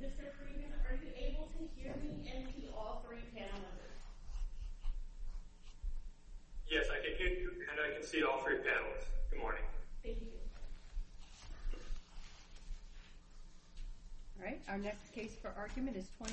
Mr. Friedman, are you able to hear me and see all three panelists? Yes, I can hear you and I can see all three panelists. Good morning. Thank you. Alright, our next case for argument is 22-1793,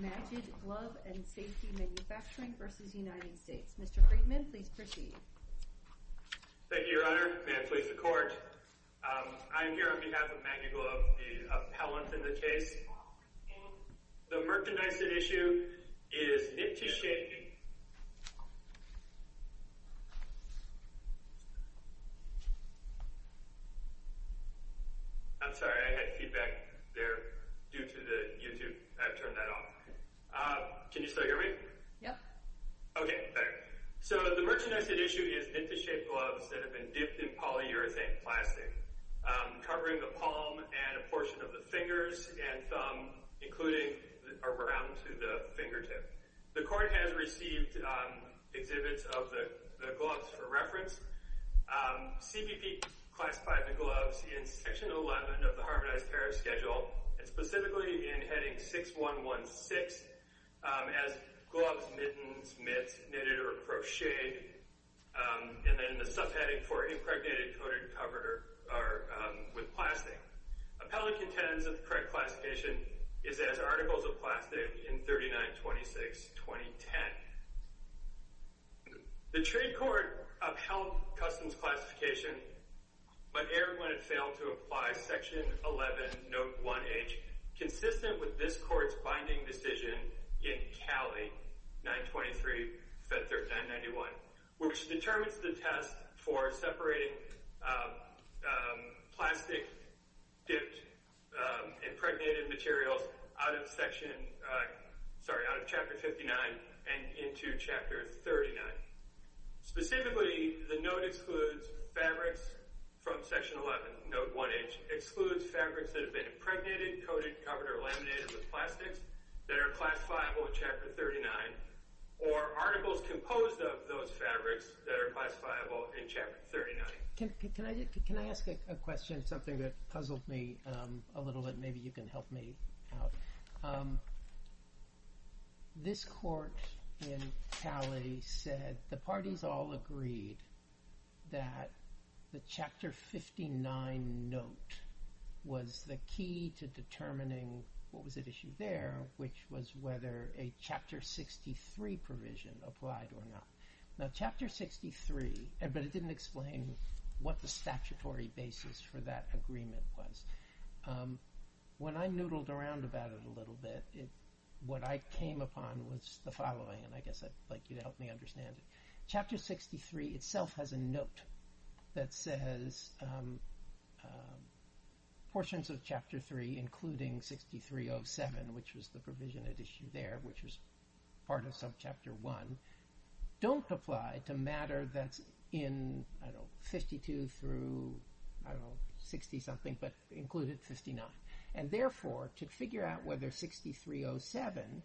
Magid Glove & Safety Manufacturing v. United States. Mr. Friedman, please proceed. Thank you, Your Honor. May I please the Court? I am here on behalf of Magid Glove, the appellant in the case. The merchandise at issue is knit-to-shady... I'm sorry, I had feedback there due to the YouTube. I've turned that off. Can you still hear me? Yeah. Okay, better. So, the merchandise at issue is knit-to-shaped gloves that have been dipped in polyurethane plastic, covering the palm and a portion of the fingers and thumb, including around to the fingertip. The Court has received exhibits of the gloves for reference. CBP classified the gloves in Section 11 of the Harmonized Pair Schedule, and specifically in Heading 6116, as gloves, mittens, mitts, knitted or crocheted, and then the subheading for impregnated, coated, covered, or with plastic. Appellant contends that the correct classification is as articles of plastic in 39-26-2010. The Trade Court upheld Customs' classification, but erred when it failed to apply Section 11, Note 1H, consistent with this Court's binding decision in CALI 923-591, which determines the test for separating plastic-dipped impregnated materials out of Chapter 59 and into Chapter 39. Specifically, the note excludes fabrics from Section 11, Note 1H, excludes fabrics that have been impregnated, coated, covered, or laminated with plastics that are classifiable in Chapter 39, or articles composed of those fabrics that are classifiable in Chapter 39. Can I ask a question? It's something that puzzled me a little bit. Maybe you can help me out. This Court in CALI said the parties all agreed that the Chapter 59 note was the key to determining what was at issue there, which was whether a Chapter 63 provision applied or not. Now, Chapter 63, but it didn't explain what the statutory basis for that agreement was. When I noodled around about it a little bit, what I came upon was the following, and I guess I'd like you to help me understand it. Chapter 63 itself has a note that says portions of Chapter 3, including 6307, which was the provision at issue there, which was part of Subchapter 1, don't apply to matter that's in 52 through 60-something, but included 59. And therefore, to figure out whether 6307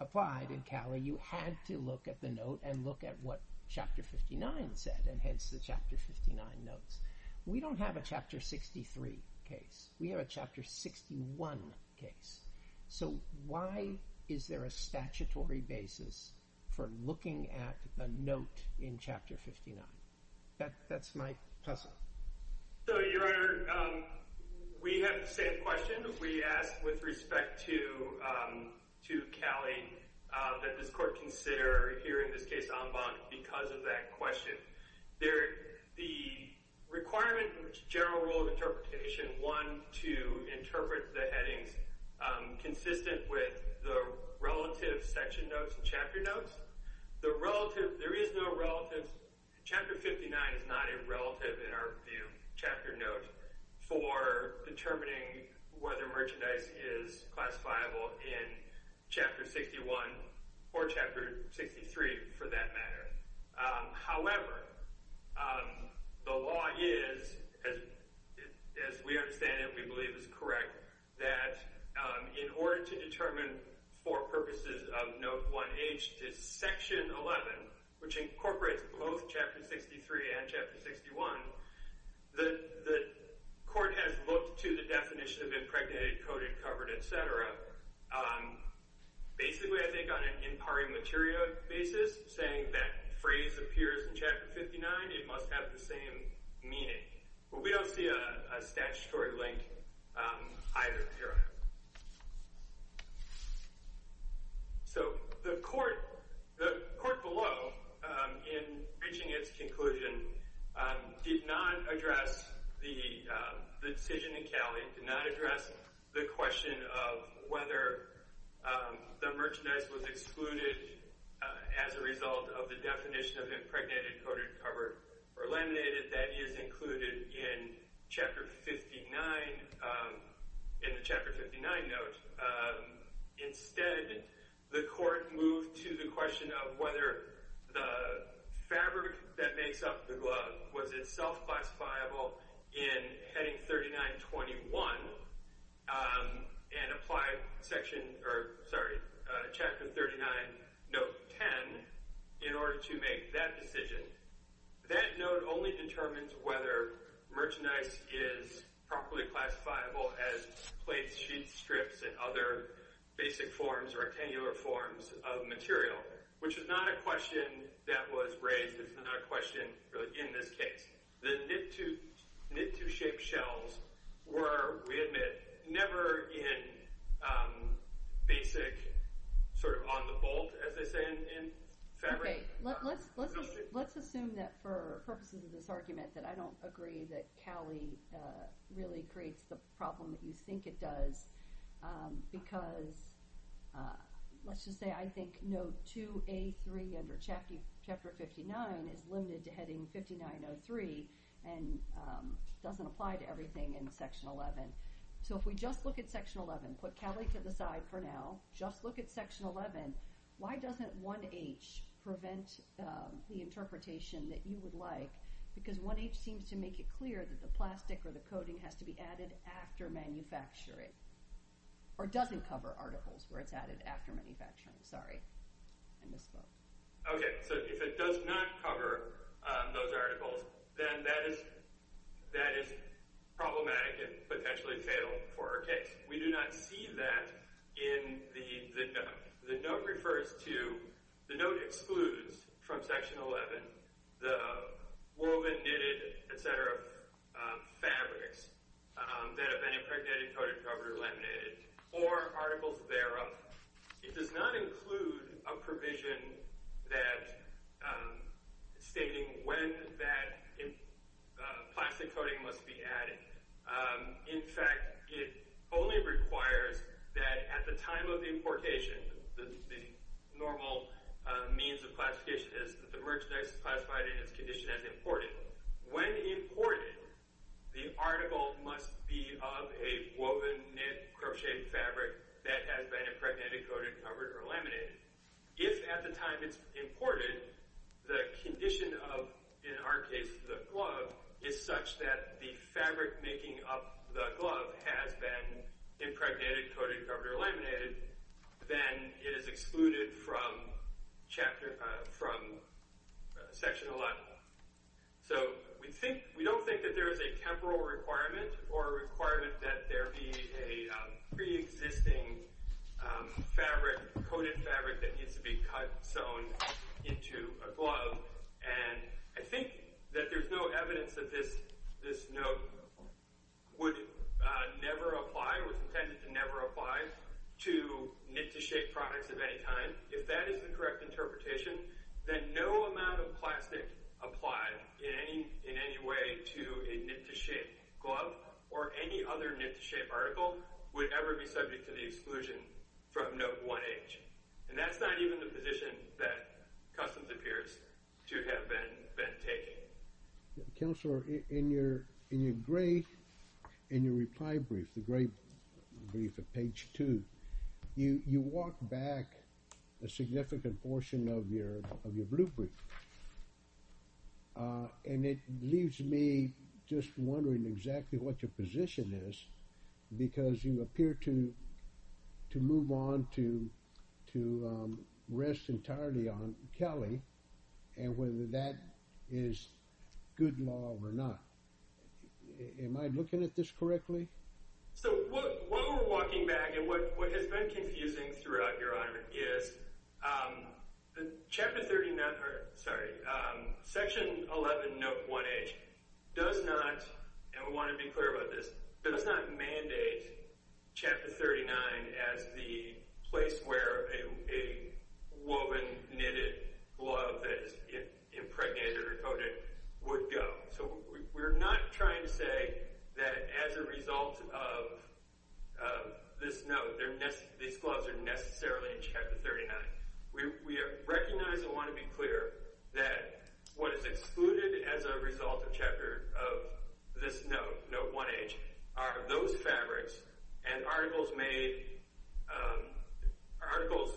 applied in CALI, you had to look at the note and look at what Chapter 59 said, and hence the Chapter 59 notes. We don't have a Chapter 63 case. We have a Chapter 61 case. So why is there a statutory basis for looking at a note in Chapter 59? That's my puzzle. So, Your Honor, we have the same question we asked with respect to CALI that this Court consider, here in this case, en banc, because of that question. The requirement in the general rule of interpretation, one, to interpret the headings consistent with the relative section notes and chapter notes. The relative, there is no relative, Chapter 59 is not a relative in our view, chapter note, for determining whether merchandise is classifiable in Chapter 61 or Chapter 63, for that matter. However, the law is, as we understand it, we believe is correct, that in order to determine for purposes of Note 1H to Section 11, which incorporates both Chapter 63 and Chapter 61, the Court has looked to the definition of impregnated, coded, covered, etc. Basically, I think, on an in pari materia basis, saying that phrase appears in Chapter 59, it must have the same meaning. But we don't see a statutory link either, Your Honor. So, the Court below, in reaching its conclusion, did not address the decision in CALI, did not address the question of whether the merchandise was excluded as a result of the definition of impregnated, coded, covered, or laminated that is included in Chapter 59, in the Chapter 59 note. Instead, the Court moved to the question of whether the fabric that makes up the glove was itself classifiable in Heading 3921 and applied Chapter 39, Note 10, in order to make that decision. That note only determines whether merchandise is properly classifiable as plates, sheets, strips, and other basic forms, rectangular forms of material, which is not a question that was raised, it's not a question in this case. The knit-to-shape shells were, we admit, never in basic, sort of on the bolt, as they say, in fabric. Okay, let's assume that for purposes of this argument, that I don't agree that CALI really creates the problem that you think it does, because, let's just say, I think Note 2A3 under Chapter 59 is limited to Heading 5903 and doesn't apply to everything in Section 11. So if we just look at Section 11, put CALI to the side for now, just look at Section 11, why doesn't 1H prevent the interpretation that you would like? Because 1H seems to make it clear that the plastic or the coating has to be added after manufacturing, or doesn't cover articles where it's added after manufacturing. Sorry, I misspoke. Okay, so if it does not cover those articles, then that is problematic and potentially fatal for our case. We do not see that in the Note. The Note refers to, the Note excludes from Section 11 the woven, knitted, etc. fabrics that have been impregnated, coated, covered, or laminated, or articles thereof. It does not include a provision stating when that plastic coating must be added. In fact, it only requires that at the time of importation, the normal means of classification is that the merchandise is classified in its condition as imported. When imported, the article must be of a woven, knit, crocheted fabric that has been impregnated, coated, covered, or laminated. If at the time it's imported, the condition of, in our case, the glove is such that the fabric making up the glove has been impregnated, coated, covered, or laminated, then it is excluded from Section 11. So, we don't think that there is a temporal requirement or a requirement that there be a pre-existing fabric, coated fabric, that needs to be cut, sewn into a glove. And I think that there's no evidence that this Note would never apply, or was intended to never apply, to knit-to-shape products of any kind. If that is the correct interpretation, then no amount of plastic applied in any way to a knit-to-shape glove or any other knit-to-shape article would ever be subject to the exclusion from Note 1H. And that's not even the position that Customs appears to have been taking. Counselor, in your reply brief, the grey brief at page 2, you walk back a significant portion of your blue brief. And it leaves me just wondering exactly what your position is, because you appear to move on to rest entirely on Kelly, and whether that is good law or not. Am I looking at this correctly? So, while we're walking back, and what has been confusing throughout, Your Honor, is Section 11 Note 1H does not—and we want to be clear about this— does not mandate Chapter 39 as the place where a woven, knitted glove that is impregnated or coated would go. So, we're not trying to say that as a result of this Note, these gloves are necessarily in Chapter 39. We recognize and want to be clear that what is excluded as a result of this Note, Note 1H, are those fabrics and articles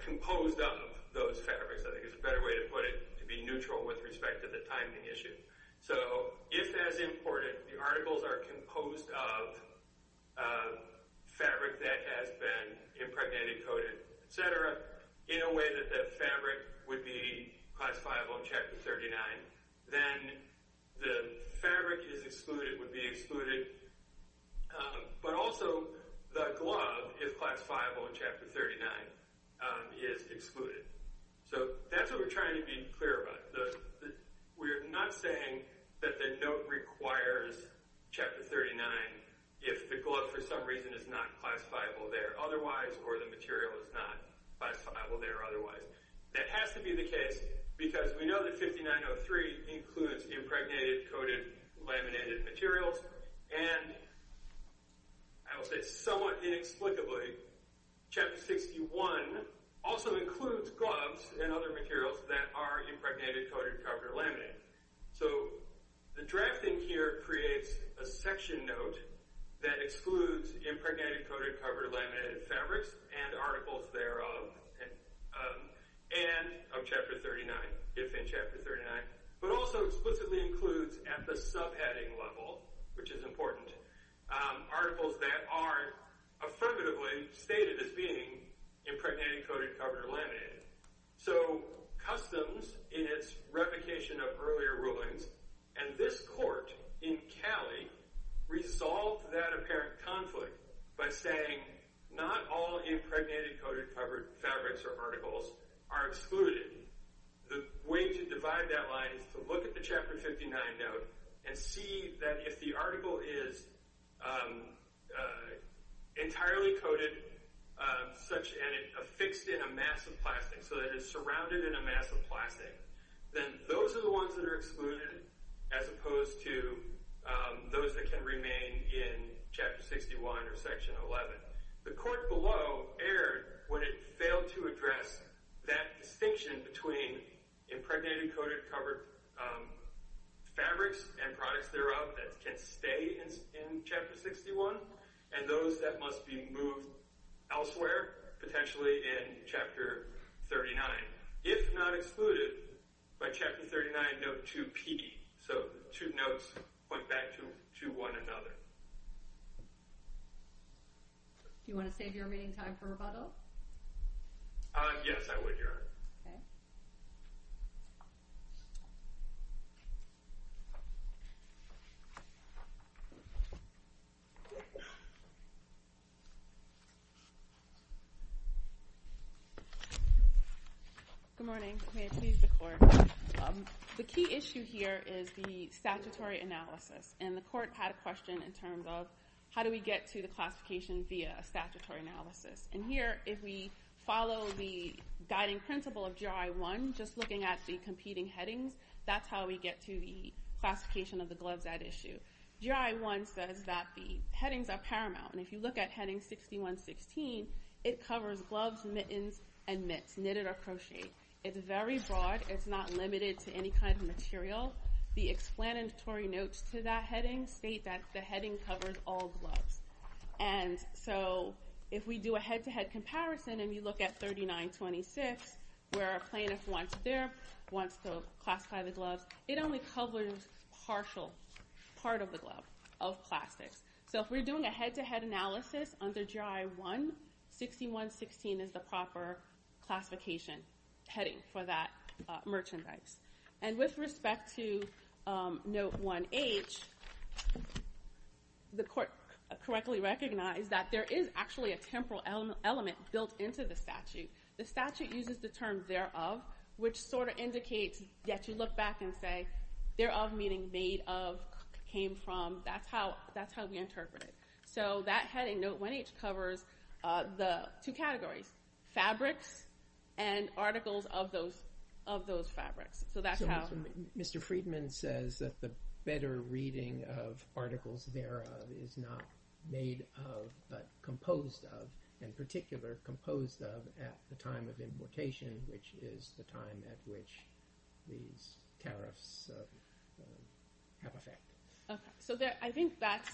composed of those fabrics. I think it's a better way to put it, to be neutral with respect to the timing issue. So, if as important, the articles are composed of fabric that has been impregnated, coated, etc., in a way that the fabric would be classifiable in Chapter 39, then the fabric is excluded, would be excluded, but also the glove is classifiable in Chapter 39, is excluded. So, that's what we're trying to be clear about. We're not saying that the Note requires Chapter 39 if the glove, for some reason, is not classifiable there otherwise, or the material is not classifiable there otherwise. That has to be the case because we know that 5903 includes impregnated, coated, laminated materials, and I will say somewhat inexplicably, Chapter 61 also includes gloves and other materials that are impregnated, coated, covered, laminated. So, the drafting here creates a section Note that excludes impregnated, coated, covered, laminated fabrics and articles thereof and of Chapter 39, if in Chapter 39, but also explicitly includes at the subheading level, which is important, articles that are affirmatively stated as being impregnated, coated, covered, or laminated. So, customs in its replication of earlier rulings, and this court in Cali resolved that apparent conflict by saying not all impregnated, coated, covered fabrics or articles are excluded. The way to divide that line is to look at the Chapter 59 Note and see that if the article is entirely coated and affixed in a mass of plastic, so that it is surrounded in a mass of plastic, then those are the ones that are excluded as opposed to those that can remain in Chapter 61 or Section 11. The court below erred when it failed to address that distinction between impregnated, coated, covered fabrics and products thereof that can stay in Chapter 61 and those that must be moved elsewhere, potentially in Chapter 39, if not excluded by Chapter 39 Note 2p. So, the two notes point back to one another. Do you want to save your remaining time for rebuttal? Okay. Good morning. May I please the court? The key issue here is the statutory analysis, and the court had a question in terms of how do we get to the classification via a statutory analysis. And here, if we follow the guiding principle of GRI 1, just looking at the competing headings, that's how we get to the classification of the gloves at issue. GRI 1 says that the headings are paramount, and if you look at Heading 61-16, it covers gloves, mittens, and mitts, knitted or crocheted. It's very broad. It's not limited to any kind of material. The explanatory notes to that heading state that the heading covers all gloves. And so, if we do a head-to-head comparison and you look at 39-26, where a plaintiff wants to classify the gloves, it only covers a partial part of the glove of plastics. So, if we're doing a head-to-head analysis under GRI 1, 61-16 is the proper classification heading for that merchandise. And with respect to Note 1H, the court correctly recognized that there is actually a temporal element built into the statute. The statute uses the term thereof, which sort of indicates that you look back and say thereof meaning made of, came from, that's how we interpret it. So, that heading, Note 1H, covers the two categories, fabrics and articles of those fabrics. So, that's how… So, Mr. Friedman says that the better reading of articles thereof is not made of, but composed of, in particular composed of at the time of importation, which is the time at which these tariffs have effect. So, I think that's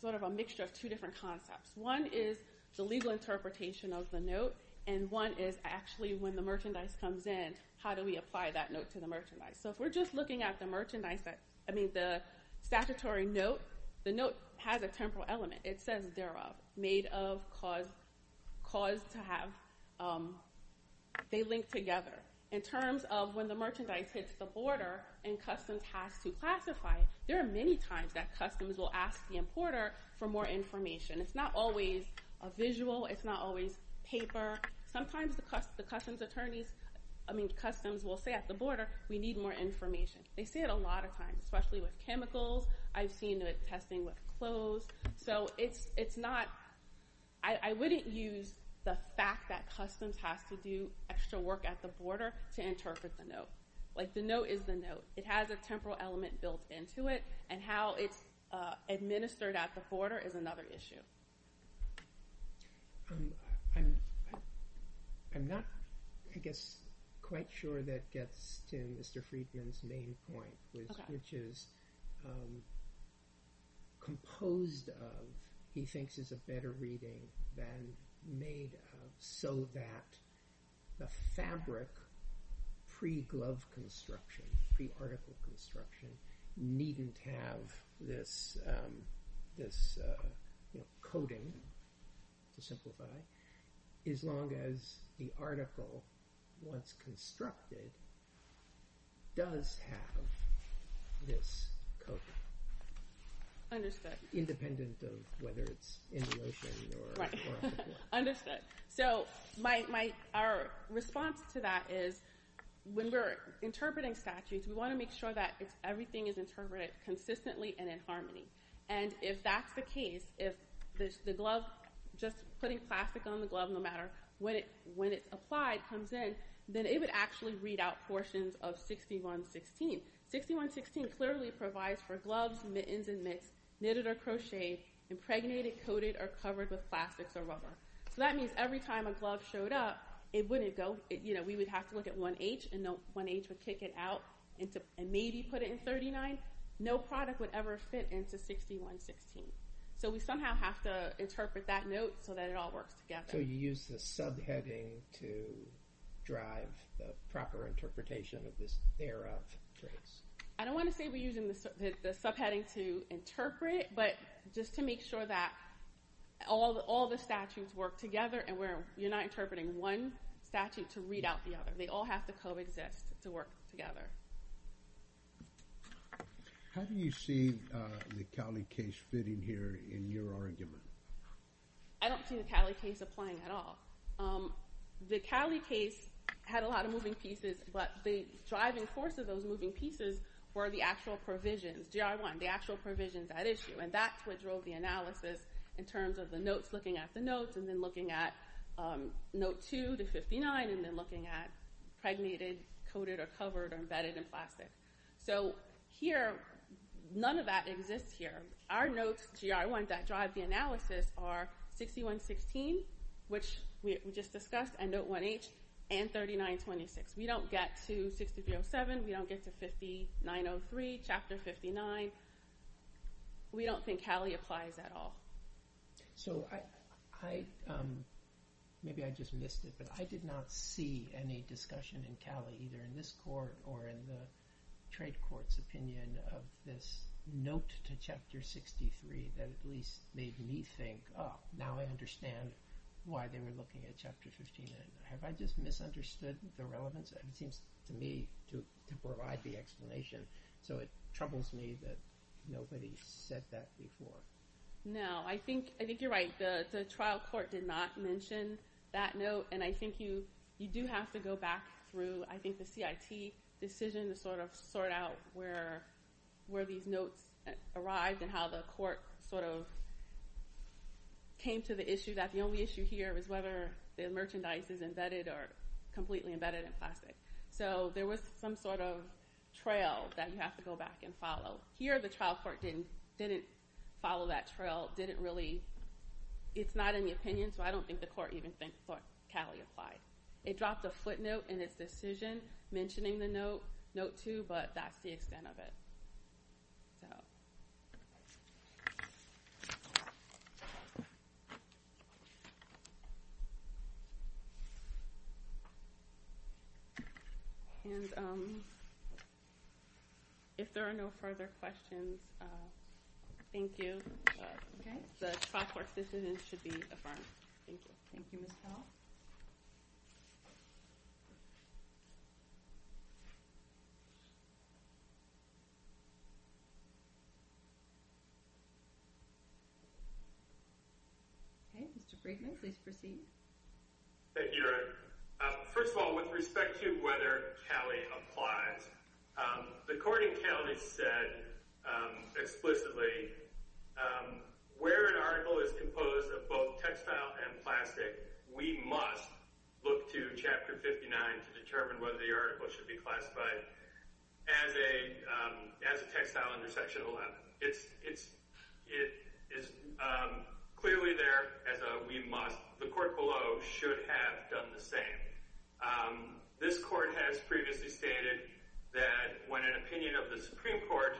sort of a mixture of two different concepts. One is the legal interpretation of the note, and one is actually when the merchandise comes in, how do we apply that note to the merchandise? So, if we're just looking at the merchandise, I mean the statutory note, the note has a temporal element. It says thereof, made of, caused to have, they link together. In terms of when the merchandise hits the border and Customs has to classify, there are many times that Customs will ask the importer for more information. It's not always a visual, it's not always paper. Sometimes the Customs attorneys, I mean Customs will say at the border, we need more information. They say it a lot of times, especially with chemicals. I've seen it testing with clothes. So, it's not, I wouldn't use the fact that Customs has to do extra work at the border to interpret the note. Like, the note is the note. It has a temporal element built into it, and how it's administered at the border is another issue. I'm not, I guess, quite sure that gets to Mr. Friedman's main point, which is composed of, he thinks is a better reading than made of, so that the fabric pre-glove construction, pre-article construction, needn't have this coating, to simplify, as long as the article, once constructed, does have this coating. Understood. Independent of whether it's in lotion or on the floor. Understood. So, my, our response to that is, when we're interpreting statutes, we want to make sure that everything is interpreted consistently and in harmony. And if that's the case, if the glove, just putting plastic on the glove, no matter when it's applied, comes in, then it would actually read out portions of 6116. 6116 clearly provides for gloves, mittens, and mitts, knitted or crocheted, impregnated, coated, or covered with plastics or rubber. So that means every time a glove showed up, it wouldn't go, you know, we would have to look at 1H, and 1H would kick it out, and maybe put it in 39. No product would ever fit into 6116. So we somehow have to interpret that note so that it all works together. So you use the subheading to drive the proper interpretation of this thereof trace? I don't want to say we're using the subheading to interpret, but just to make sure that all the statutes work together, and where you're not interpreting one statute to read out the other. They all have to coexist to work together. How do you see the Cowley case fitting here in your argument? I don't see the Cowley case applying at all. The Cowley case had a lot of moving pieces, but the driving force of those moving pieces were the actual provisions, GR1, the actual provisions at issue. And that's what drove the analysis in terms of the notes, looking at the notes, and then looking at note 2 to 59, and then looking at impregnated, coated, or covered, or embedded in plastic. So here, none of that exists here. Our notes, GR1, that drive the analysis are 6116, which we just discussed, and note 1H, and 3926. We don't get to 6307. We don't get to 5903, Chapter 59. We don't think Cowley applies at all. Maybe I just missed it, but I did not see any discussion in Cowley, either in this court or in the trade court's opinion, of this note to Chapter 63 that at least made me think, oh, now I understand why they were looking at Chapter 59. Have I just misunderstood the relevance? It seems to me to provide the explanation, so it troubles me that nobody said that before. No, I think you're right. The trial court did not mention that note, and I think you do have to go back through, I think, the CIT decision to sort out where these notes arrived and how the court sort of came to the issue that the only issue here was whether the merchandise is embedded or completely embedded in plastic. So there was some sort of trail that you have to go back and follow. Here, the trial court didn't follow that trail. It's not in the opinion, so I don't think the court even thought Cowley applied. It dropped a footnote in its decision mentioning the note too, but that's the extent of it. So. And if there are no further questions, thank you. The trial court decision should be affirmed. Thank you, Ms. Hall. Mr. Freedman, please proceed. Thank you, Your Honor. First of all, with respect to whether Cowley applied, the court in Cowley said explicitly where an article is composed of both textile and plastic, we must look to Chapter 59 to determine whether the article should be classified as a textile under Section 11. It's clearly there as a we must. The court below should have done the same. This court has previously stated that when an opinion of the Supreme Court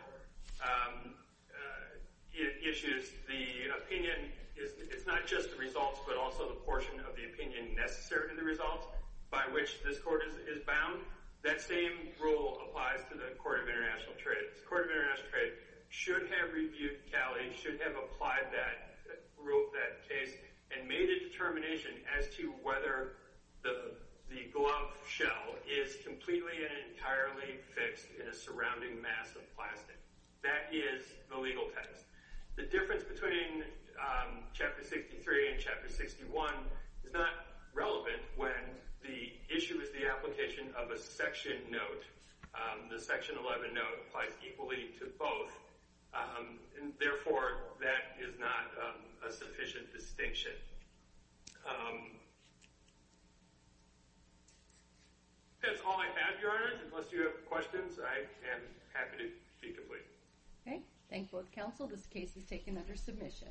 issues the opinion, it's not just the results but also the portion of the opinion necessary to the results by which this court is bound. That same rule applies to the Court of International Trade. The Court of International Trade should have reviewed Cowley, should have applied that rule, that case, and made a determination as to whether the glove shell is completely and entirely fixed in a surrounding mass of plastic. That is the legal test. The difference between Chapter 63 and Chapter 61 is not relevant when the issue is the application of a section note. The Section 11 note applies equally to both. Therefore, that is not a sufficient distinction. That's all I have, Your Honors. Unless you have questions, I am happy to speak. Okay. Thank you both, Counsel. This case is taken under submission.